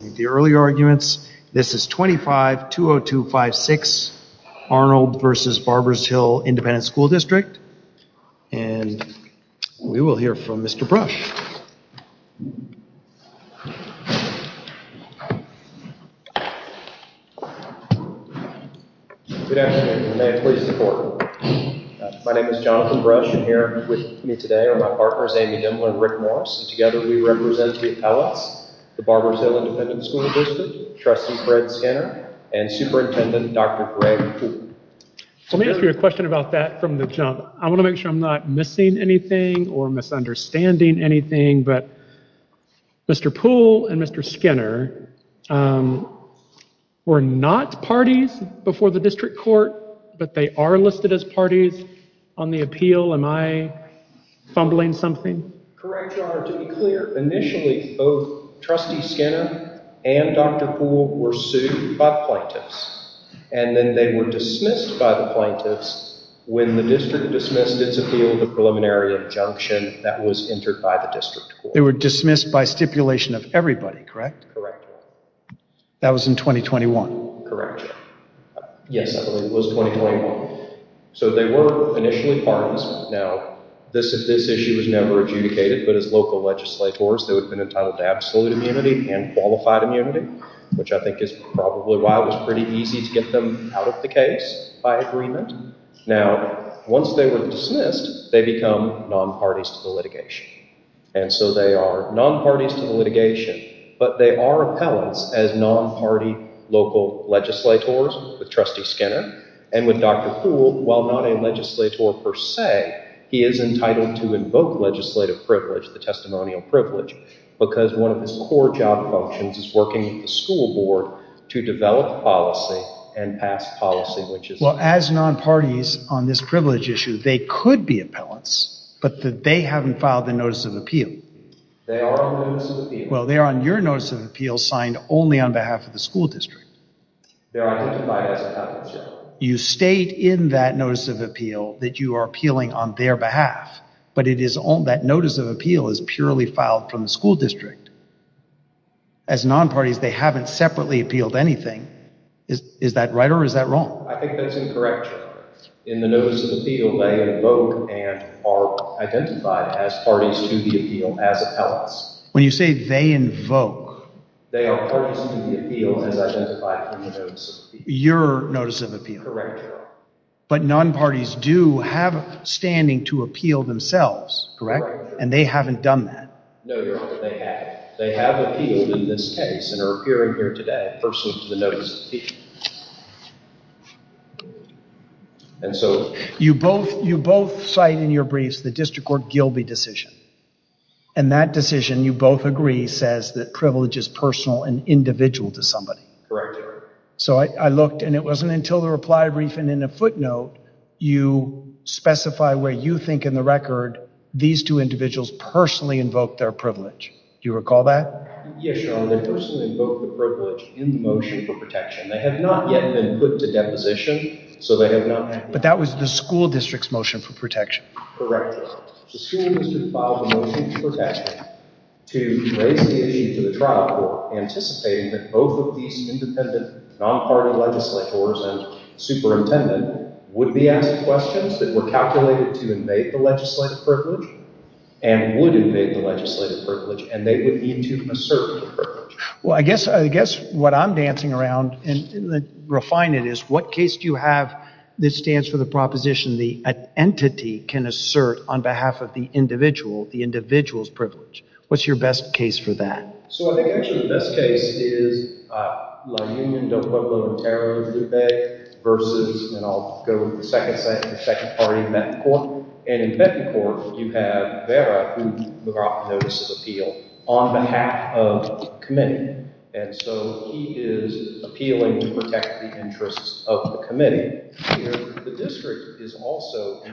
The early arguments, this is 25-202-56 Arnold v. Barbers Hill Independent School District and we will hear from Mr. Brush. Good afternoon and may it please the court. My name is Jonathan Brush and here with me today are my partners Amy Dimler and Rick Morris and together we represent the appellates the Barbers Hill Independent School District, Trustee Fred Skinner and Superintendent Dr. Greg Poole. Let me ask you a question about that from the jump. I want to make sure I'm not missing anything or misunderstanding anything but Mr. Poole and Mr. Skinner were not parties before the district court but they are listed as parties on the appeal. Am I fumbling something? Correct, your honor. To be clear, initially both Trustee Skinner and Dr. Poole were sued by the plaintiffs and then they were dismissed by the plaintiffs when the district dismissed its appeal, the preliminary injunction that was entered by the district court. They were dismissed by stipulation of everybody, correct? Correct. That was in 2021? Correct. Yes, it was 2021. So they were initially parties. Now this issue was never adjudicated but as local legislators they would have been entitled to absolute immunity and qualified immunity which I think is probably why it was pretty easy to get them out of the case by agreement. Now once they were dismissed they become non-parties to the litigation and so they are non-parties to the litigation but they are appellants as non-party local legislators with Trustee Skinner and with Dr. Poole. While not a legislator per se, he is entitled to invoke legislative privilege, the testimonial privilege, because one of his core job functions is working with the school board to develop policy and pass policy. Well as non-parties on this privilege issue they could be appellants but that they haven't filed the notice of appeal. They are on your notice of appeal signed only on behalf of the school district. You state in that notice of appeal that you are appealing on their behalf but it is on that notice of appeal is purely filed from the school district. As non-parties they haven't separately appealed anything. Is that right or is that wrong? I think as parties to the appeal as appellants. When you say they invoke. They are parties to the appeal as identified from the notice of appeal. Your notice of appeal. Correct. But non-parties do have standing to appeal themselves, correct? And they haven't done that. No, Your Honor, they have. They have appealed in this case and are appearing here today personal to the notice of appeal. And so you both you both cite in your briefs the district court Gilby decision and that decision you both agree says that privilege is personal and individual to somebody. Correct, Your Honor. So I looked and it wasn't until the reply brief and in a footnote you specify where you think in the record these two individuals personally invoked their privilege. Do you recall that? Yes, Your Honor, they personally invoked the privilege in the motion for protection. They have not yet been put to deposition. So they have not. But that was the school district's motion for protection. Correct. The school district filed a motion for protection to raise the issue to the trial court anticipating that both of these independent non-party legislators and superintendent would be asked questions that were calculated to invade the legislative privilege and would invade the legislative privilege and they would need to assert the privilege. Well, I guess what I'm dancing around and refine it is what case do you have that stands for the proposition the entity can assert on behalf of the individual, the individual's privilege? What's your best case for that? So I think actually the best case is La Union del Pueblo de Ontario versus and I'll go with the second second party in Benton Court. And in Benton Court, you have Vera, who McGrath notices appeal on behalf of the committee. And so he is appealing to protect the interests of the committee.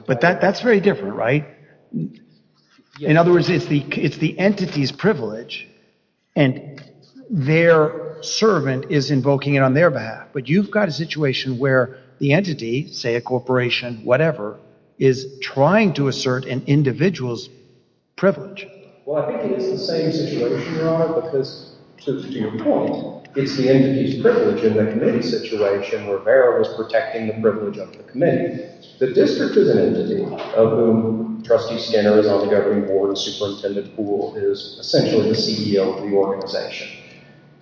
But that's very different, right? In other words, it's the entity's privilege and their servant is invoking it on their behalf. But you've got a situation where the entity, say a corporation, whatever, is trying to assert an individual's privilege. Well, I think it's the same situation, Your Honor, because to your point, it's the entity's privilege in the committee situation where Vera was protecting the privilege of the committee. The district is an entity of whom Trustee Skinner is on the governing board, Superintendent Poole is essentially the CEO of the organization.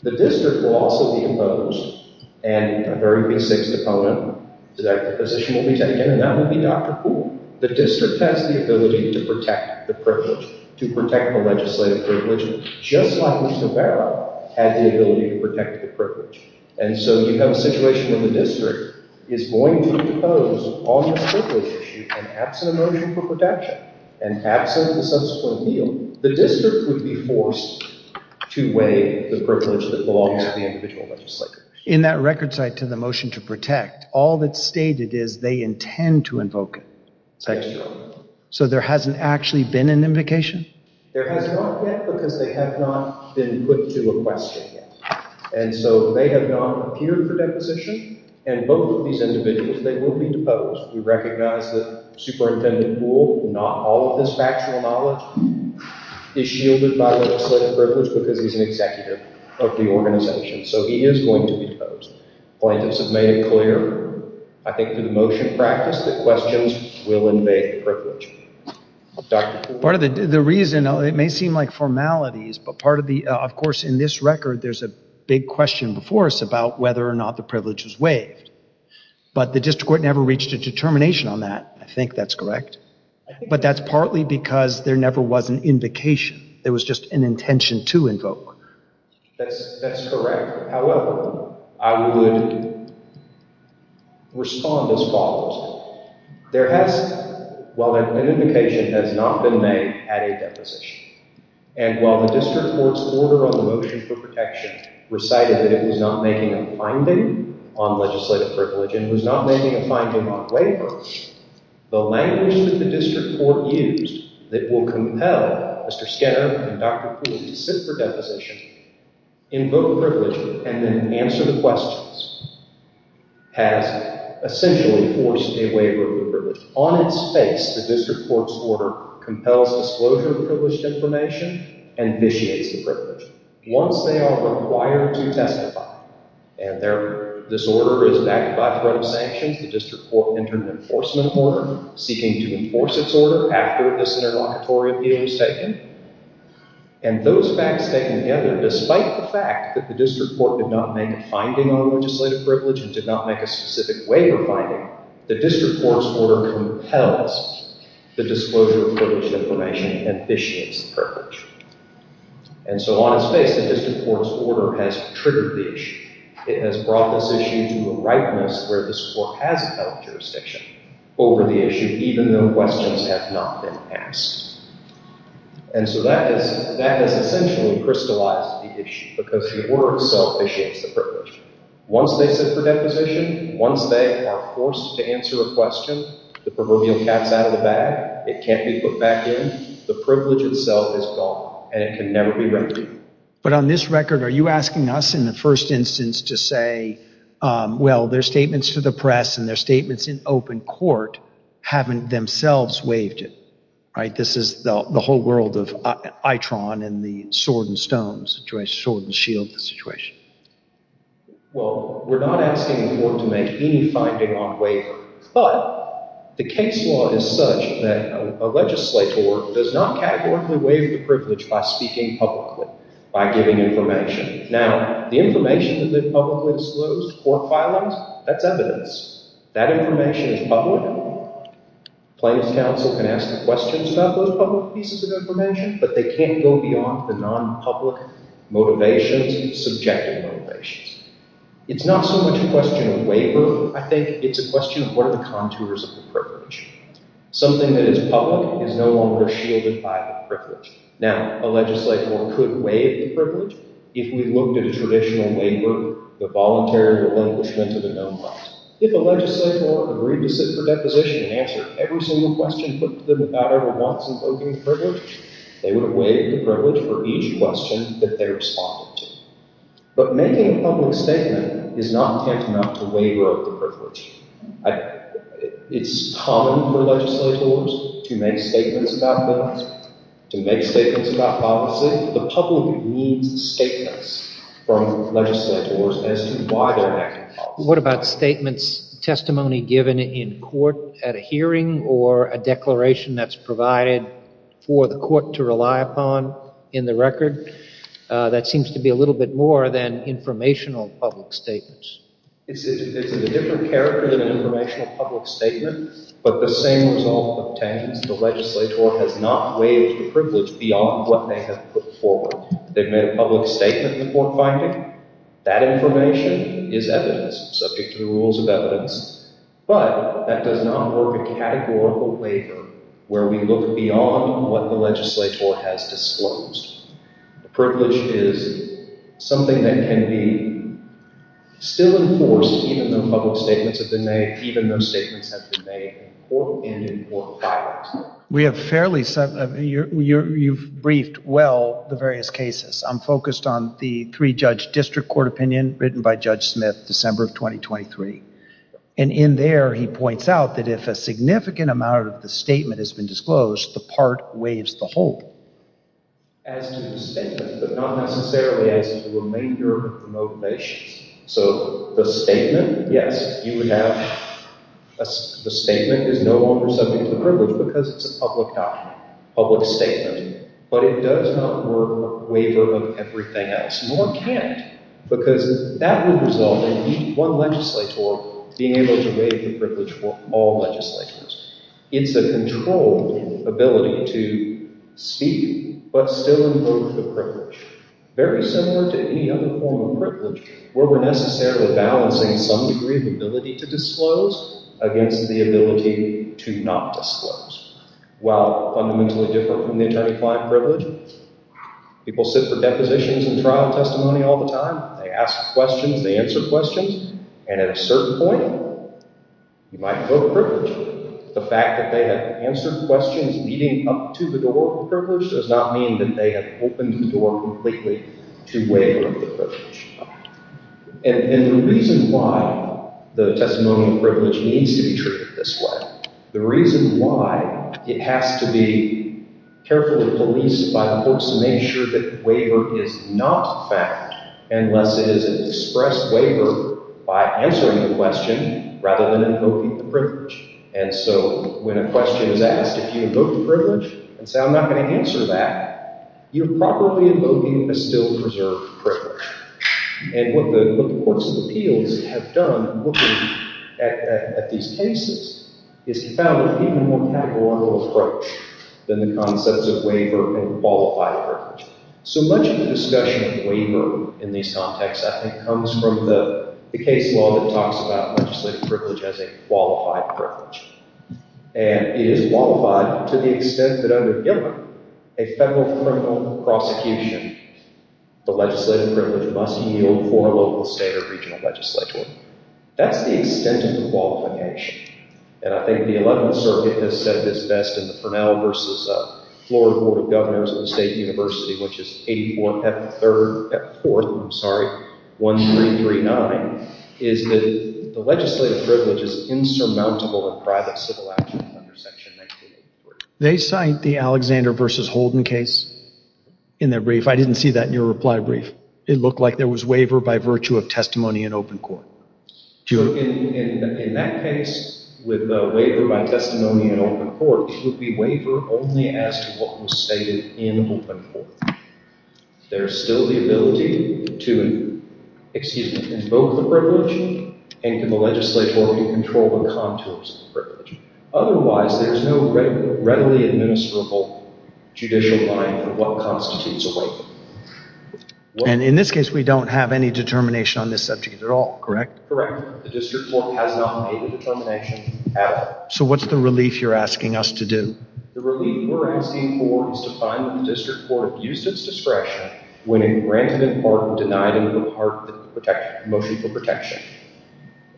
The district will also be imposed and a very basic opponent to that position will be taken and that will be Dr. Poole. The district has the ability to protect the privilege, to protect the legislative privilege, just like Mr. Vera had the ability to protect the privilege. And so you have a situation where the district is going to impose on this privilege issue an absent a motion for protection, an absent a subsequent appeal. The district would be forced to weigh the privilege that belongs to the individual legislator. In that record cite to the motion to protect, all that's stated is they intend to invoke it. So there hasn't actually been an invocation? There has not yet because they have not been put to a question yet. And so they have not appeared for deposition and both of these individuals, they will be deposed. We recognize that Superintendent Poole, not all of his factual knowledge, is shielded by legislative privilege because he's an executive of the organization. So he is going to be deposed. Plaintiffs have made it clear, I think through the motion practice, that questions will invade the privilege. Part of the reason, it may seem like formalities, but part of the, of course in this record, there's a big question before us about whether or not the privilege was waived. But the district court never reached a determination on that. I think that's correct. But that's partly because there never was an invocation. There was just an intention to invoke. That's correct. However, I would respond as follows. There has, while an invocation has not been made, had a deposition. And while the district court's order on the motion for protection recited that it was not making a finding on legislative privilege and was not making a finding on waivers, the language that the district court used that will compel Mr. Skinner and Dr. Poole to sit for deposition, invoke a privilege, and then answer the questions, has essentially forced a waiver of the privilege. On its face, the district court's order compels disclosure of privilege. And so on its face, the district court's order has triggered the issue. It has brought this issue to a ripeness where this court has held jurisdiction over the issue, even though questions have not been asked. And so that is, that has essentially crystallized the issue because the order itself initiates the privilege. Once they sit for deposition, once they are forced to answer a question, the proverbial cat's out of the bag. It can't be put back in. The privilege itself is gone and it can never be But on this record, are you asking us in the first instance to say, well, their statements to the press and their statements in open court haven't themselves waived it, right? This is the whole world of EITRON and the sword and stone situation, sword and shield situation. Well, we're not asking the court to make any finding on waiver, but the case law is such that a legislator does not categorically waive the privilege by speaking publicly, by giving information. Now, the information that they've publicly disclosed court filings, that's evidence. That information is public. Plaintiff's counsel can ask questions about those public pieces of information, but they can't go beyond the non-public motivations, subjective motivations. It's not so much a question of waiver. I think it's a question of what are the contours of the privilege. Something that is public is no longer shielded by the privilege. Now, a legislator could waive the privilege if we looked at a traditional waiver, the voluntary relinquishment of a known right. If a legislator agreed to sit for deposition and answer every single question put to them about ever once invoking the privilege, they would have waived the privilege for each question that they responded to. But making a public statement is not tantamount to waiver of the privilege. It's common for legislators to make statements about that, to make statements about policy. The public needs statements from legislators as to why they're making policy. What about statements, testimony given in court at a hearing or a declaration that's provided for the court to rely upon in the record? That seems to be a little bit more than informational public statements. It's a different character than an informational public statement, but the same result obtains. The legislator has not waived the privilege beyond what they have put forward. They've made a public statement in the court finding. That information is evidence, subject to the rules of evidence. But that does not work in categorical waiver, where we look beyond what the legislator has disclosed. The privilege is something that can be still enforced even though public statements have been made, even though statements have been made in court and in court filings. We have fairly, you've briefed well the various cases. I'm focused on the three-judge district court opinion written by Judge Smith, December of 2023. And in there, he points out that if a significant amount of the statement has been disclosed, the part waives the whole. As to the statement, but not necessarily as to the remainder of the motivations. So the statement, yes, you would have, the statement is no longer subject to the privilege because it's a public document, public statement. But it does not work with waiver of everything else, nor can it, because that would result in one legislator being able to waive the privilege for all legislators. It's a controlled ability to speak, but still invoke the privilege. Very similar to any other form of privilege, where we're necessarily balancing some degree of ability to disclose against the ability to not disclose. While fundamentally different from the attorney-client privilege, people sit for depositions and trial testimony all the time. They ask questions, they answer questions, and at a leading up to the door of the privilege does not mean that they have opened the door completely to waiver of the privilege. And the reason why the testimonial privilege needs to be treated this way, the reason why it has to be carefully policed by the courts to make sure that the waiver is not found unless it is an express waiver by answering the question rather than invoking the privilege. And so when a question is asked, if you invoke the privilege and say I'm not going to answer that, you're probably invoking a still preserved privilege. And what the courts of appeals have done looking at these cases is to found an even more categorical approach than the concepts of waiver and qualified privilege. So much of the discussion of waiver in these contexts I comes from the case law that talks about legislative privilege as a qualified privilege. And it is qualified to the extent that under a federal criminal prosecution, the legislative privilege must yield for a local, state, or regional legislature. That's the extent of the qualification. And I think the 11th circuit has said this best in the Purnell versus Florida Board of Governors at the State University, which is 8-1-f-3-f-4, I'm sorry, 1-3-3-9, is that the legislative privilege is insurmountable in private civil action under section 1983. They cite the Alexander versus Holden case in their brief. I didn't see that in your reply brief. It looked like there was waiver by virtue of testimony in open court. In that case, with waiver by testimony in open court, it would be waiver only as to what was stated in open court. There's still the ability to invoke the privilege and can the legislature control the contours of the privilege. Otherwise, there's no readily administrable judicial line for what constitutes a waiver. And in this case, we don't have any determination on this subject at all, correct? Correct. The district court has not made a determination at all. So what's the relief you're asking us to do? The relief we're asking for is to find that the district court abused its discretion when it granted in part and denied in part the motion for protection.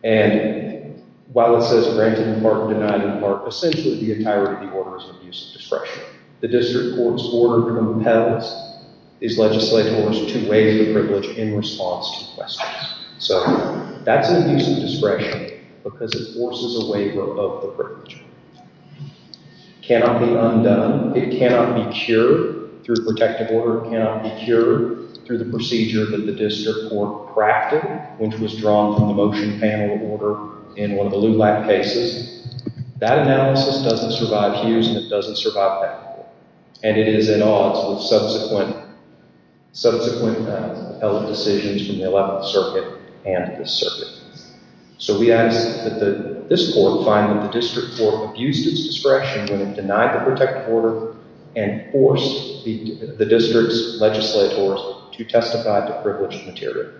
And while it says granted in part and denied in part, essentially the entirety of the order is an abuse of discretion. The district court's order compels these legislators to waive the in response to questions. So that's an abuse of discretion because it forces a waiver of the privilege. It cannot be undone. It cannot be cured through protective order. It cannot be cured through the procedure that the district court crafted, which was drawn from the motion panel order in one of the LULAC cases. That analysis doesn't survive Hughes and it doesn't survive appellate decisions from the 11th circuit and this circuit. So we ask that this court find that the district court abused its discretion when it denied the protective order and forced the district's legislators to testify to privileged material.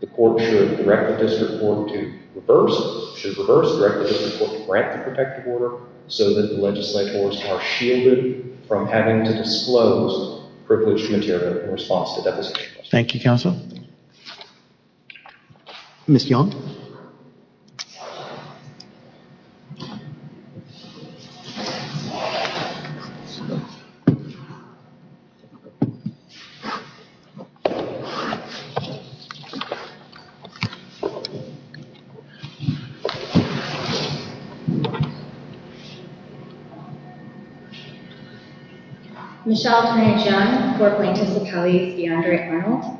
The court should direct the district court to reverse, should reverse direct the district court to grant the protective order so that the legislators are shielded from having to disclose privileged material in response to Thank you, councillor. Ms. Young. Michelle, Tanya, John, four plaintiffs of Cali, Deandre, Arnold,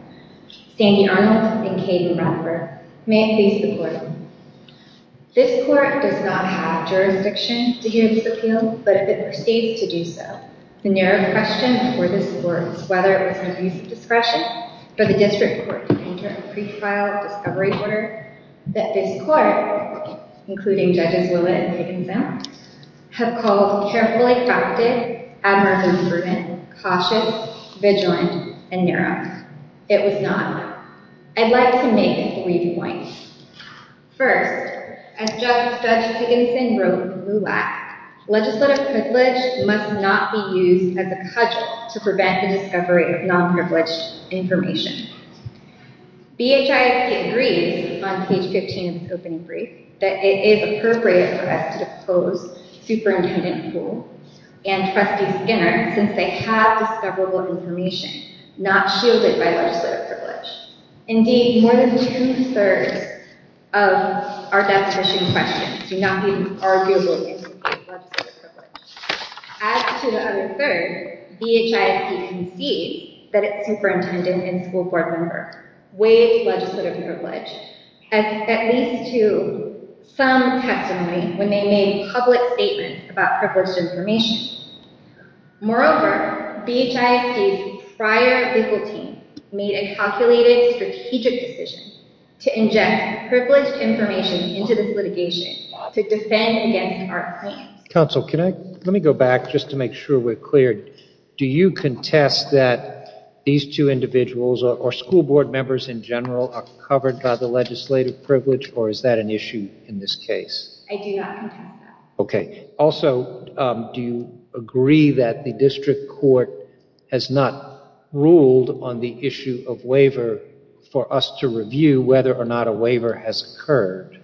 Sandy Arnold, and Kaden Romper. May I please the court. This court does not have jurisdiction to hear this appeal, but if it proceeds to do so, the narrow question for this court is whether it was an abuse of discretion for the district court to enter a pre-trial discovery order that this court, including judges Lillet and Piggins-Owen, have called carefully facted, admirable and prudent, cautious, vigilant, and narrow. It was not. I'd like to make three points. First, as Judge Pigginson wrote in LULAC, legislative privilege must not be used as a cudgel to prevent the discovery of non-privileged information. BHIS agrees on page 15 of the opening and trustee Skinner, since they have discoverable information, not shielded by legislative privilege. Indeed, more than two-thirds of our definition questions do not be arguable. As to the other third, BHIS concedes that its superintendent and school board member waived legislative privilege, at least to some testimony, when they made public statements about privileged information. Moreover, BHIS's prior legal team made a calculated strategic decision to inject privileged information into this litigation to defend against our plans. Counsel, can I, let me go back just to make sure we're cleared. Do you contest that these two individuals or school board members in general are covered by the legislative privilege or is that an issue in this case? I do not contest that. Okay. Also, do you agree that the district court has not ruled on the issue of waiver for us to review whether or not a waiver has occurred?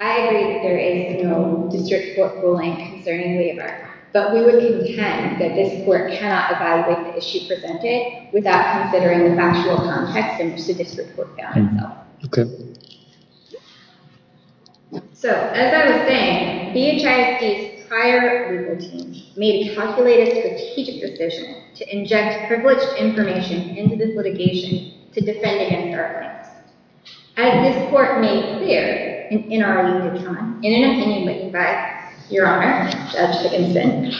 I agree that there is no district court ruling concerning waiver, but we would contend that this court cannot evaluate the issue presented without considering the factual context in which the So, as I was saying, BHIS's prior legal team made a calculated strategic decision to inject privileged information into this litigation to defend against our plans. As this court made clear in our reading of time, in an opinion written by Your Honor, Judge Dickinson,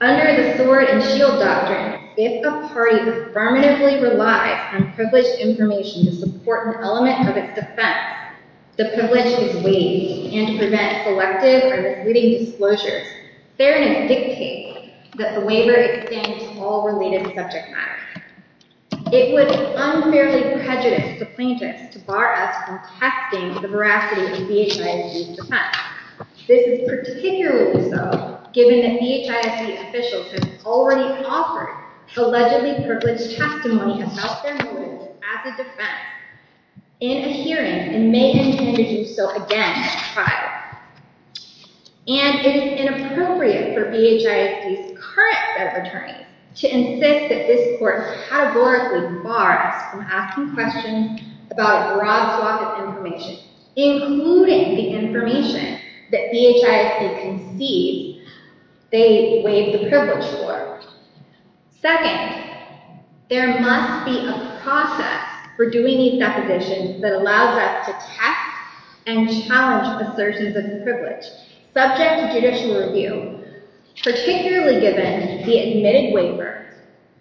under the sword and shield doctrine, if a party affirmatively relies on privileged information to support an element of its defense, the privilege is waived and to prevent selective or misleading disclosures, they're going to dictate that the waiver extends to all related subject matter. It would unfairly prejudice the plaintiffs to bar us from testing the veracity of BHIS's defense. This is particularly so given that BHIS officials have already offered allegedly privileged testimony about their motives as a defense in a hearing and may intend to do so again at trial. And it is inappropriate for BHIS's current set of attorneys to insist that this court categorically bar us from asking questions about a broad swath of information, including the information that BHIS concedes they waive the privilege for. Second, there must be a process for doing these depositions that allows us to test and challenge assertions of privilege, subject to judicial review, particularly given the admitted waiver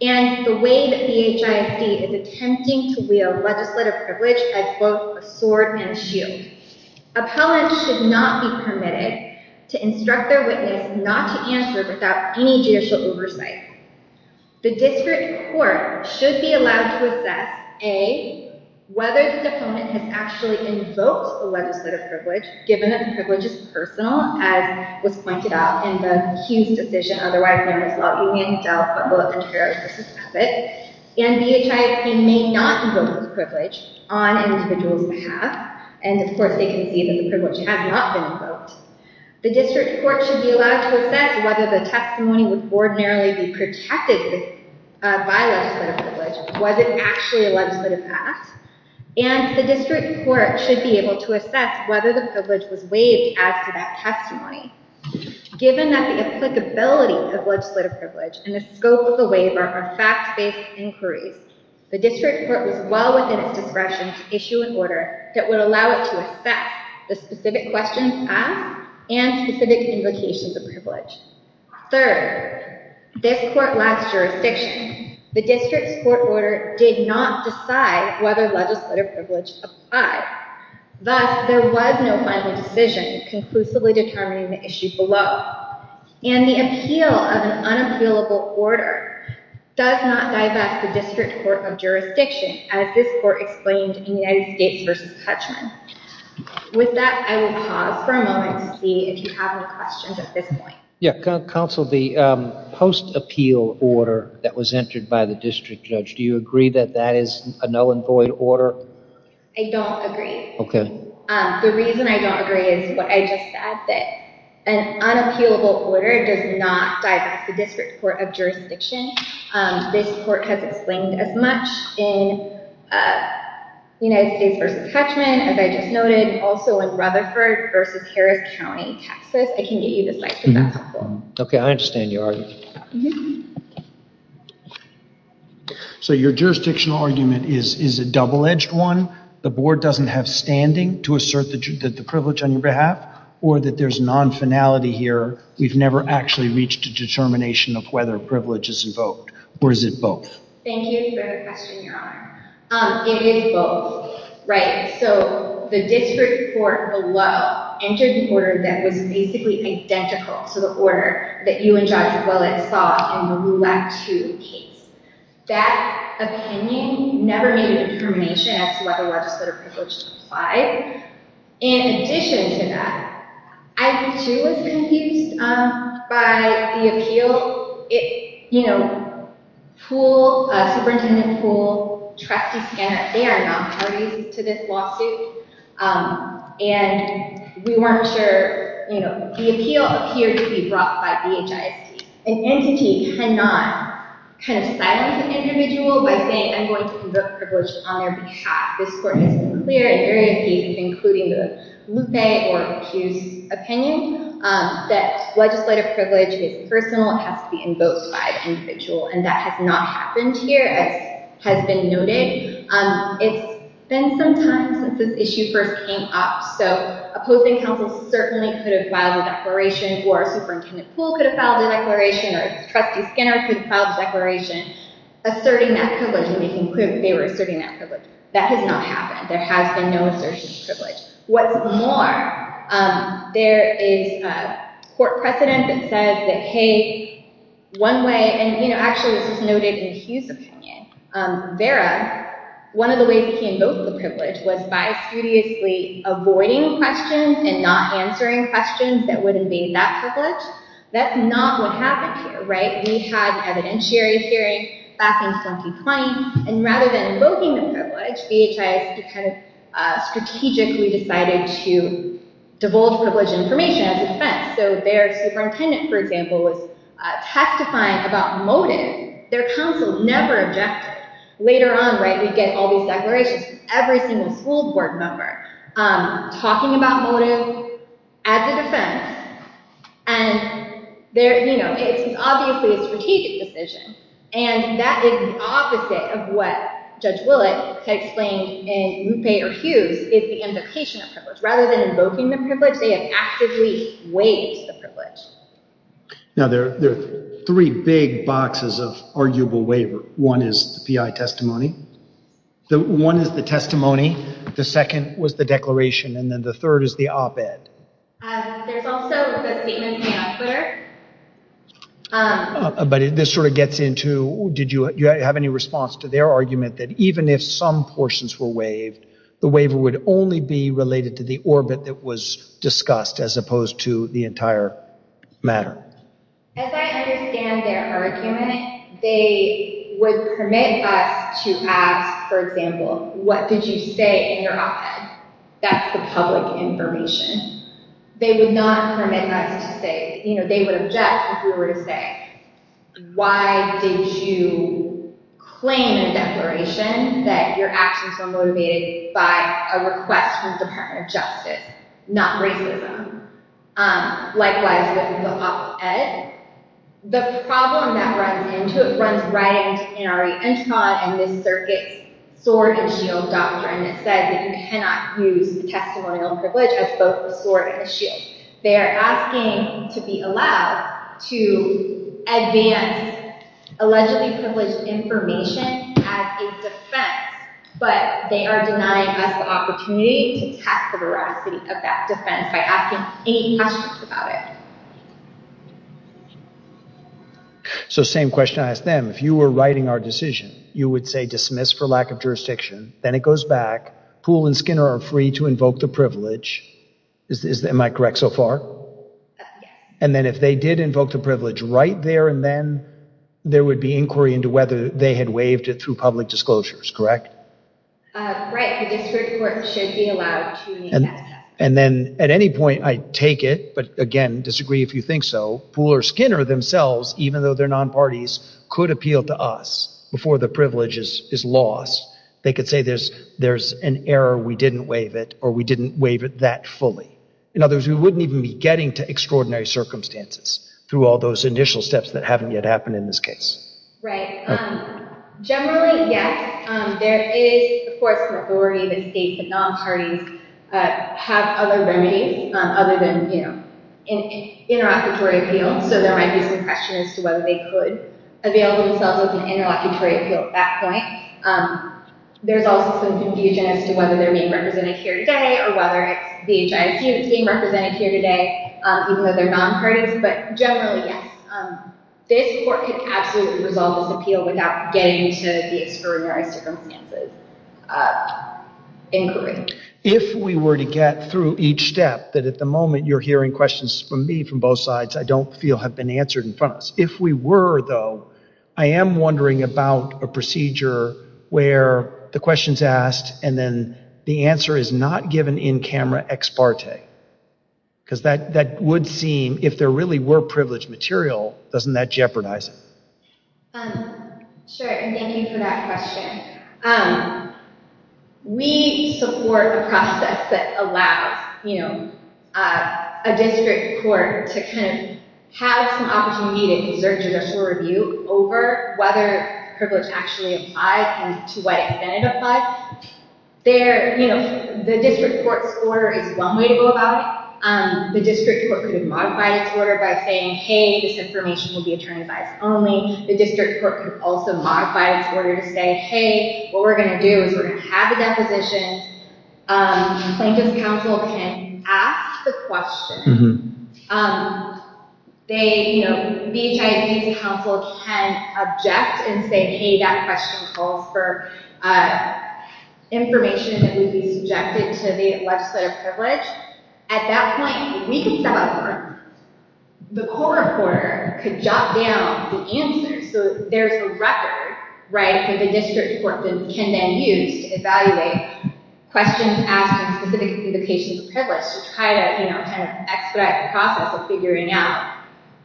and the way that BHIS is attempting to wield legislative privilege as both a sword and shield. Appellants should not be permitted to instruct their witness not to answer without any judicial oversight. The district court should be allowed to assess, A, whether the defendant has actually invoked a legislative privilege, given that the privilege is personal, as was pointed out in the Hughes decision, otherwise known as Law, Union, Delft, Butler, Contreras v. Pessitt. And BHIS may not invoke the privilege on an individual's behalf. And of course, they can see that the privilege has not been invoked. The district court should be allowed to assess whether the testimony would ordinarily be protected by legislative privilege. Was it actually a legislative act? And the district court should be able to assess whether the privilege was waived as to that testimony. Given that the applicability of legislative privilege and the scope of the waiver are fact-based inquiries, the district court was well within its discretion to issue an order that would allow it to assess the specific questions asked and specific invocations of privilege. Third, this court lacks jurisdiction. The district's court order did not decide whether legislative privilege applied. Thus, there was no final decision conclusively determining the issue below. And the appeal of an unappealable order does not divest the district court of jurisdiction, as this court explained in United States v. Hutchman. With that, I will pause for a moment to see if you have any Yeah, counsel, the post-appeal order that was entered by the district judge, do you agree that that is a null and void order? I don't agree. Okay. The reason I don't agree is what I just said, that an unappealable order does not divest the district court of jurisdiction. This court has explained as much in United States v. Hutchman, as I just noted, also in Rutherford v. Harris I can get you to cite for that. Okay, I understand your argument. So your jurisdictional argument is a double-edged one, the board doesn't have standing to assert the privilege on your behalf, or that there's non-finality here, we've never actually reached a determination of whether privilege is invoked, or is it both? Thank you for the question, that was basically identical to the order that you and Judge Willett saw in the Roulette 2 case. That opinion never made a determination as to whether legislative privilege should apply. In addition to that, I too was confused by the appeal, you know, Poole, Superintendent Poole, Trustee Skennett, they are not parties to this lawsuit, and we weren't sure, you know, the appeal appeared to be brought by BHISD. An entity cannot kind of silence an individual by saying, I'm going to invoke privilege on their behalf. This court has been clear in various cases, including the Lupe or Hughes opinion, that legislative privilege is personal, it has to be invoked by an individual, and that has not happened here, as has been noted. It's been some time since this issue first came up, so opposing counsel certainly could have filed a declaration, or Superintendent Poole could have filed a declaration, or Trustee Skennett could have filed a declaration asserting that privilege, and making clear they were asserting that privilege. That has not happened, there has been no assertion of privilege. What's more, there is a court precedent that says that, hey, one way, and you know, actually this is noted in Hughes' opinion, Vera, one of the ways he invoked the privilege was by studiously avoiding questions and not answering questions that would invade that privilege. That's not what happened here, right? We had an evidentiary hearing back in 2020, and rather than invoking the privilege, BHISD kind of strategically decided to divulge privilege information as a defense. So Superintendent, for example, was testifying about motive, their counsel never objected. Later on, right, we get all these declarations from every single school board member talking about motive as a defense, and there, you know, it's obviously a strategic decision, and that is the opposite of what Judge Willett had explained in Ruppe or Hughes, is the invocation of privilege. Rather than invoking the privilege, they have actively waived the privilege. Now, there are three big boxes of arguable waiver. One is the PI testimony, the one is the testimony, the second was the declaration, and then the third is the op-ed. There's also the statement from the outputter. But this sort of gets into, did you have any response to their argument that even if some portions were waived, the waiver would only be related to the orbit that was discussed as opposed to the entire matter? As I understand their argument, they would permit us to ask, for example, what did you say in your op-ed? That's the public information. They would not permit us to say, you know, they would object if we were to say, why did you claim a declaration that your actions were motivated by a request from the Department of Justice, not racism? Likewise with the op-ed. The problem that runs into it runs right into NRE Entron and this circuit's sword and shield doctrine that said that you cannot use the testimonial privilege as both a sword and a shield. They are asking to be allowed to advance allegedly privileged information as a defense, but they are denying us the opportunity to test the veracity of that defense by asking any questions about it. So same question I asked them. If you were writing our decision, you would say dismiss for lack of jurisdiction, then it goes back, Poole and Skinner are free to invoke the privilege. Am I correct so far? Yes. And then if they did invoke the privilege right there and then, there would be inquiry into whether they had waived it through public disclosures, correct? Right, the district court should be allowed to. And then at any point, I take it, but again, disagree if you think so, Poole or Skinner themselves, even though they're non-parties, could appeal to us before the privilege is lost. They could say there's an error, we didn't waive it, or we didn't waive it that fully. In other words, we wouldn't even be getting to extraordinary circumstances through all those initial steps that haven't yet happened in this case. Right. Generally, yes. There is, of course, an authority that states that non-parties have other remedies other than, you know, an interlocutory appeal. So there might be some question as to whether they could avail themselves of an interlocutory appeal at that point. There's also some confusion as to whether they're being represented here today, or whether it's the HIQ that's being represented here today, even though they're non-parties. But generally, yes, this court could absolutely resolve this appeal without getting to the extraordinary circumstances inquiry. If we were to get through each step, that at the moment you're hearing questions from me, from both sides, I don't feel have been answered in front of us. If we were, though, I am wondering about a procedure where the question's asked, and then the answer is not given in camera, ex parte. Because that would seem, if there really were privileged material, doesn't that jeopardize it? Sure, and thank you for that question. We support the process that allows, you know, a district court to kind of have some opportunity to exert judicial review over whether privilege actually applies and to what extent it applies. The district court's order is one way to go about it. The district court could have modified its order by saying, hey, this information will be attorney-advised only. The district court could also modify its order to say, hey, what we're going to do is we're going to have the council can object and say, hey, that question calls for information that would be subjected to the legislative privilege. At that point, we can step up. The court reporter could jot down the answers, so there's a record, right, that the district court can then use to evaluate questions asking specific implications of privilege to try to, you know, kind of expedite the process of figuring out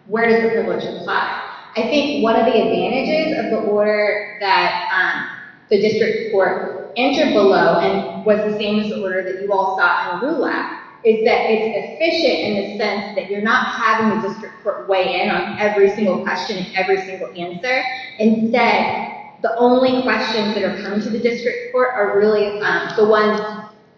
where does the privilege apply. I think one of the advantages of the order that the district court entered below and was the same as the order that you all saw in the RULA is that it's efficient in the sense that you're not having the district court weigh in on every single question and every single answer. Instead, the only questions that are coming to the district court are really the ones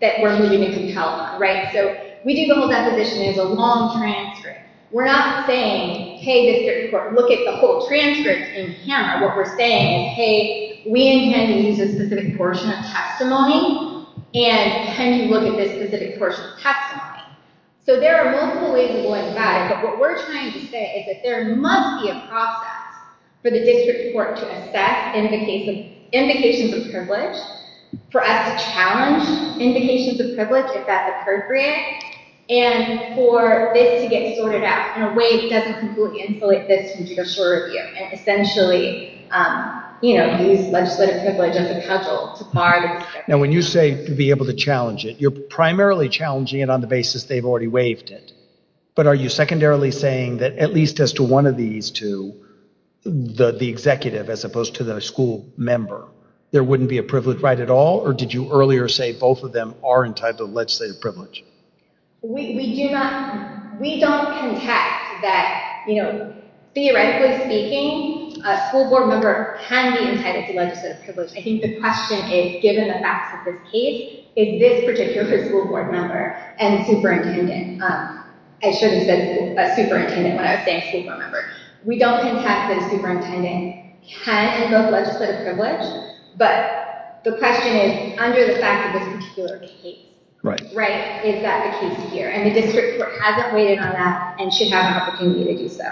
that we're moving to compel on, right? So we do the whole deposition as a long transcript. We're not saying, hey, district court, look at the whole transcript in camera. What we're saying is, hey, we intend to use a specific portion of testimony, and can you look at this specific portion of testimony? So there are multiple ways of going about it, but what we're trying to say is that there must be a process for the district court to assess indications of privilege, for us to challenge indications of privilege if that's appropriate, and for this to get sorted out in a way that doesn't completely inflate this judicial review and essentially, you know, use legislative privilege as a cudgel to bar the district court. Now when you say to be able to challenge it, you're primarily challenging it on the basis they've already waived it, but are you secondarily saying that at least as to one of these two, the executive as opposed to the school member, there wouldn't be a privilege right at all, or did you earlier say both of them are entitled to legislative privilege? We don't contend that, you know, theoretically speaking, a school board member can be entitled to legislative privilege. I think the question is, given the facts of this case, if this particular school board member and superintendent, I should have said superintendent when I was saying school board member, we don't contend that a superintendent can have both legislative privilege, but the question is, under the fact of this particular case, right, is that the case here, and the district court hasn't weighed in on that and should have an opportunity to do so.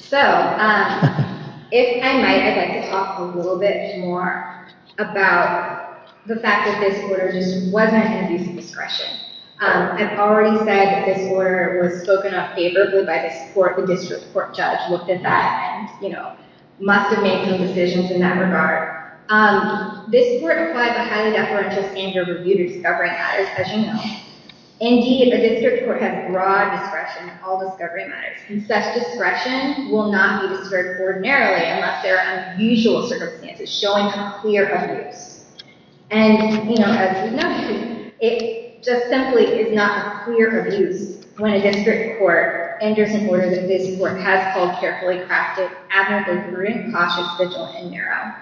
So, if I might, I'd like to talk a little bit more about the fact that this order just wasn't at the use of discretion. I've already said that this order was spoken of favorably by this court, the district court judge looked at that and, you know, must have made some decisions in that regard. This court applied a highly deferential standard of review to discovery matters, as you know. Indeed, the district court had broad discretion in all discovery matters, and such discretion will not be disturbed ordinarily unless there are unusual circumstances showing a clear abuse. And, you know, as we've noted, it just simply is not a clear abuse when a district court enters an order that this court has called carefully crafted, adamantly prudent, cautious, vigilant, and narrow.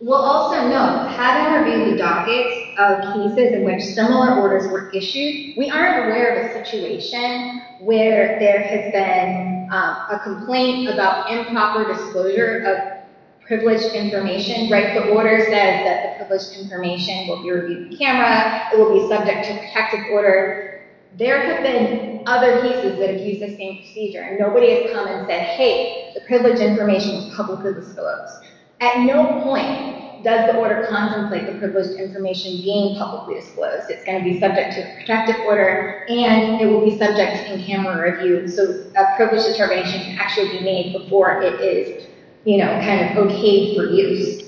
We'll also note, having reviewed the dockets of cases in which similar orders were issued, we aren't aware of a situation where there has been a complaint about improper disclosure of privileged information, right, the order says that the privileged information will be reviewed by the camera, it will be subject to protective order. There have been other cases that have used the same procedure, and nobody has come and said, hey, the privileged information was publicly disclosed. At no point does the order contemplate the privileged information being publicly disclosed. It's going to be subject to protective order, and it will be subject to camera review, so a privilege determination can actually be made before it is, you know, kind of okayed for use.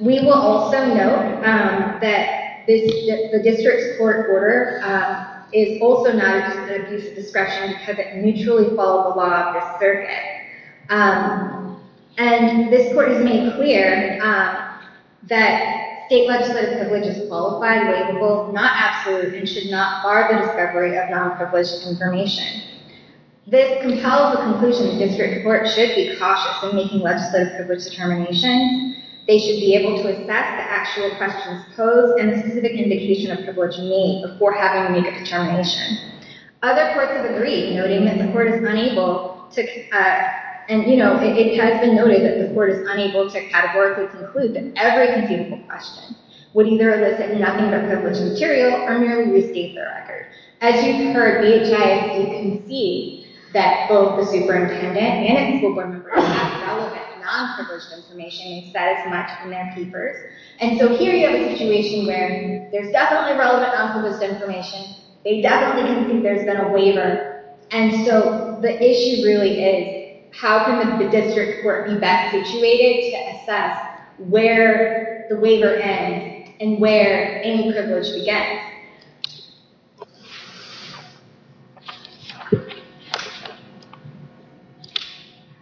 We will also note that the district's court order is also not a discriminatory use of discretion because it neutrally follows the law of the circuit, and this court has made clear that state legislative privilege is qualified, but it is both not absolute and should not bar the discovery of non-privileged information. This compels the conclusion that district courts should be cautious in making legislative privilege determination, they should be able to assess the actual questions posed and the specific indication of privilege made before having to make a determination. Other courts have agreed, noting that the court is unable to, and you know, it has been noted that the court is unable to categorically conclude that every conceivable question would either elicit nothing but privileged material or merely restate the record. As you've heard, BHI has conceded that both the superintendent and its board members have relevant non-privileged information and said as much in their papers, and so here you have a situation where there's definitely relevant non-privileged information, they definitely didn't think there's been a waiver, and so the issue really is how can the district court be best situated to assess where the waiver ends and where any privilege begins.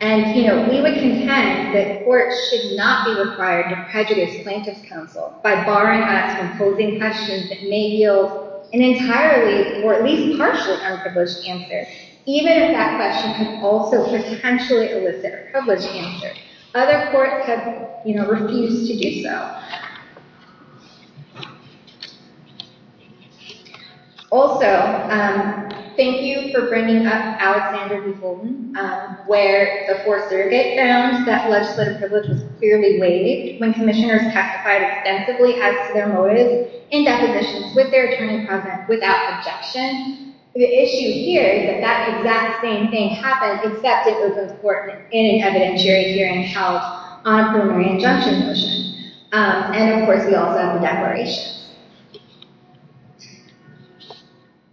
And, you know, we would contend that courts should not be required to prejudice plaintiff's counsel by barring us from posing questions that may yield an entirely or at least partial unprivileged answer, even if that question can also potentially elicit a privileged answer. Other courts have, you know, refused to do so. Also, thank you for bringing up Alexander v. Holden, where the Fourth Circuit found that legislative privilege was clearly waived when commissioners testified extensively as to their motives in depositions with their attorney present without objection. The issue here is that that exact same thing happened, except it was important in an evidentiary hearing held on a preliminary injunction motion. And, of course, we also have the declarations.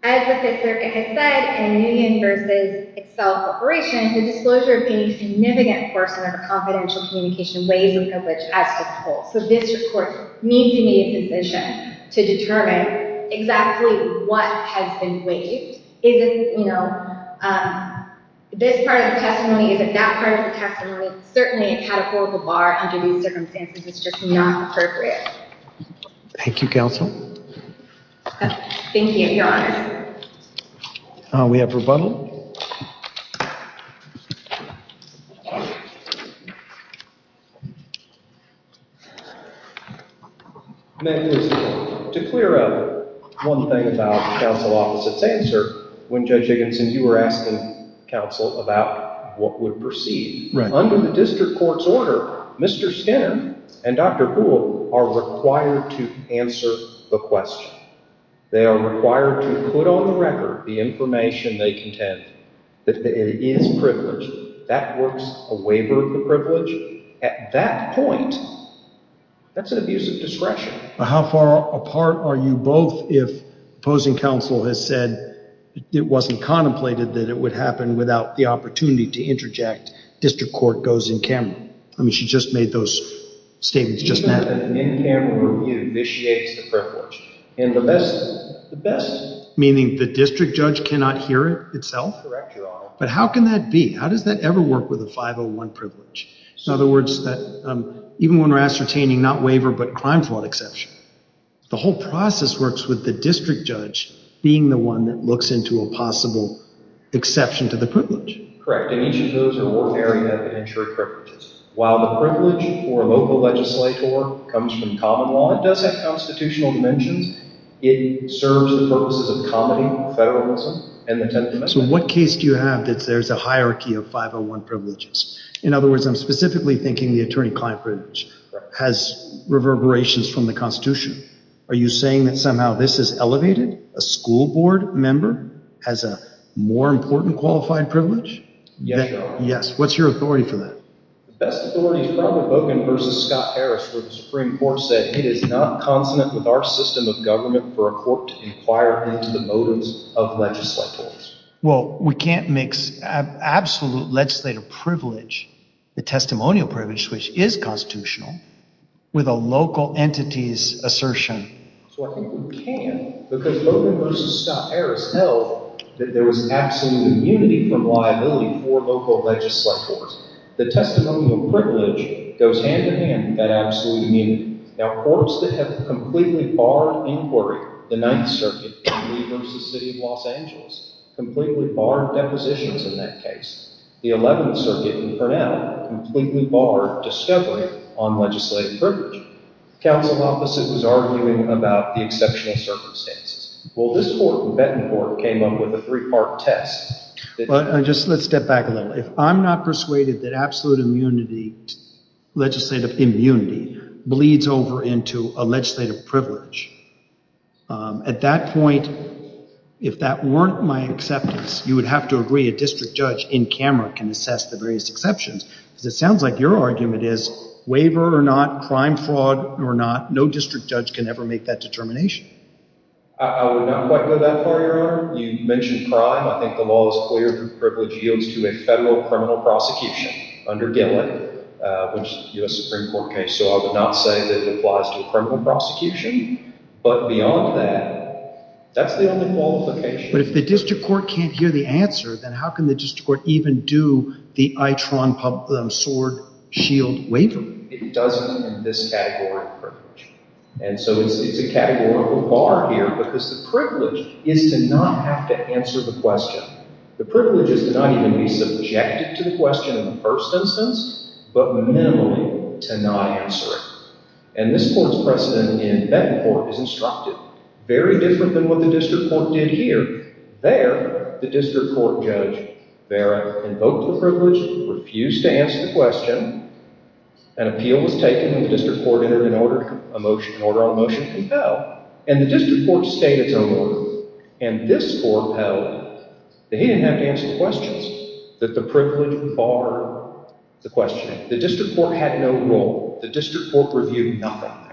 As the Fifth Circuit has said, in a union versus itself operation, the disclosure of being a significant person of a confidential communication waives a privilege as to the whole. So district courts need to be in a position to determine exactly what has been waived. Is it, you know, this part of the testimony? Is it that part of the testimony? Certainly a categorical bar under these circumstances is just not appropriate. Thank you, counsel. Thank you, Your Honor. We have rebuttal. Ma'am, to clear up one thing about counsel opposite's answer when Judge Higginson, you were asking counsel about what would proceed. Under the district court's order, Mr. Skinner and Dr. Poole are required to answer the question. They are required to put on the record the information they contend that it is privileged. That works a waiver of the privilege. At that point, that's an abuse of discretion. How far apart are you both if opposing counsel has said it wasn't contemplated that it would happen without the opportunity to interject? District just made those statements just now. The best, meaning the district judge cannot hear it itself? But how can that be? How does that ever work with a 501 privilege? In other words, that even when we're ascertaining not waiver but crime fraud exception, the whole process works with the district judge being the one that looks into a possible exception to the privilege. Correct, and each of those are ordinary evidentiary privileges. While the privilege for a local legislator comes from common law, it does have constitutional dimensions. It serves the purposes of comedy, federalism, and the 10th Amendment. So what case do you have that there's a hierarchy of 501 privileges? In other words, I'm specifically thinking the attorney-client privilege has reverberations from the Constitution. Are you saying that somehow this is elevated? A school member has a more important qualified privilege? Yes. What's your authority for that? The best authority is probably Bogan v. Scott Harris where the Supreme Court said it is not consonant with our system of government for a court to inquire into the motives of legislators. Well, we can't mix absolute legislative privilege, the testimonial privilege, which is constitutional, with a local assertion. So I think we can because Bogan v. Scott Harris held that there was absolute immunity from liability for local legislators. The testimonial privilege goes hand-in-hand with that absolute immunity. Now, courts that have completely barred inquiry, the 9th Circuit in Lee v. City of Los Angeles, completely barred depositions in that case. The 11th Circuit in Arnell completely barred discovery on legislative privilege. Counsel opposite was arguing about the exceptional circumstances. Well, this court, the Benton Court, came up with a three-part test. Well, just let's step back a little. If I'm not persuaded that absolute immunity, legislative immunity, bleeds over into a legislative privilege, at that point, if that weren't my acceptance, you would have to agree a district judge in camera can assess the exceptions. Because it sounds like your argument is waiver or not, crime fraud or not, no district judge can ever make that determination. I would not quite go that far, Your Honor. You mentioned crime. I think the law is clear that privilege yields to a federal criminal prosecution under Gillen, which is a U.S. Supreme Court case. So I would not say that it applies to a criminal prosecution. But beyond that, that's the only qualification. But if the district court can't hear the answer, then how can the district court even do the I-tron sword shield waiver? It doesn't in this category of privilege. And so it's a categorical bar here because the privilege is to not have to answer the question. The privilege is to not even be subjected to the question in the first instance, but minimally to not answer it. And this court's precedent in court is instructive, very different than what the district court did here. There, the district court judge, Vera, invoked the privilege, refused to answer the question, an appeal was taken, the district court entered an order, a motion, an order on motion, and the district court stayed its own order. And this court held that he didn't have to answer the questions, that the privilege barred the questioning. The district court had no rule. The district court had no rule.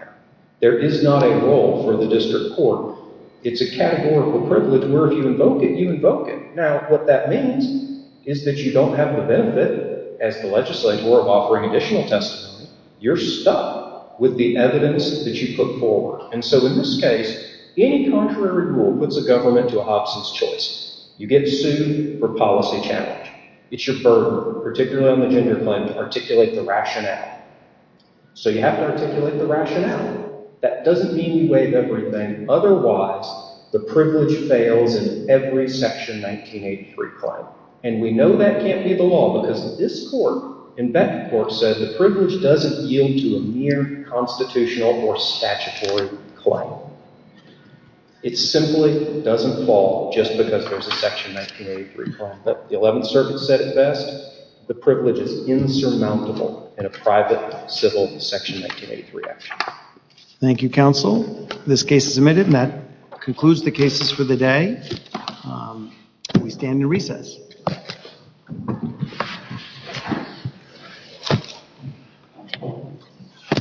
It's not a rule for the district court. It's a categorical privilege where if you invoke it, you invoke it. Now, what that means is that you don't have the benefit as the legislator of offering additional testimony. You're stuck with the evidence that you put forward. And so in this case, any contrary rule puts a government to a Hobson's choice. You get sued for policy challenge. It's your burden, particularly on the gender claim, articulate the rationale. So you have to articulate the rationale. That doesn't mean you waive everything. Otherwise, the privilege fails in every section 1983 claim. And we know that can't be the law because this court and that court said the privilege doesn't yield to a mere constitutional or statutory claim. It simply doesn't fall just because there's a section 1983 claim. But the 11th circuit said it best. The privilege is insurmountable in a private civil section 1983 action. Thank you, counsel. This case is admitted and that concludes the cases for the day. We stand to recess.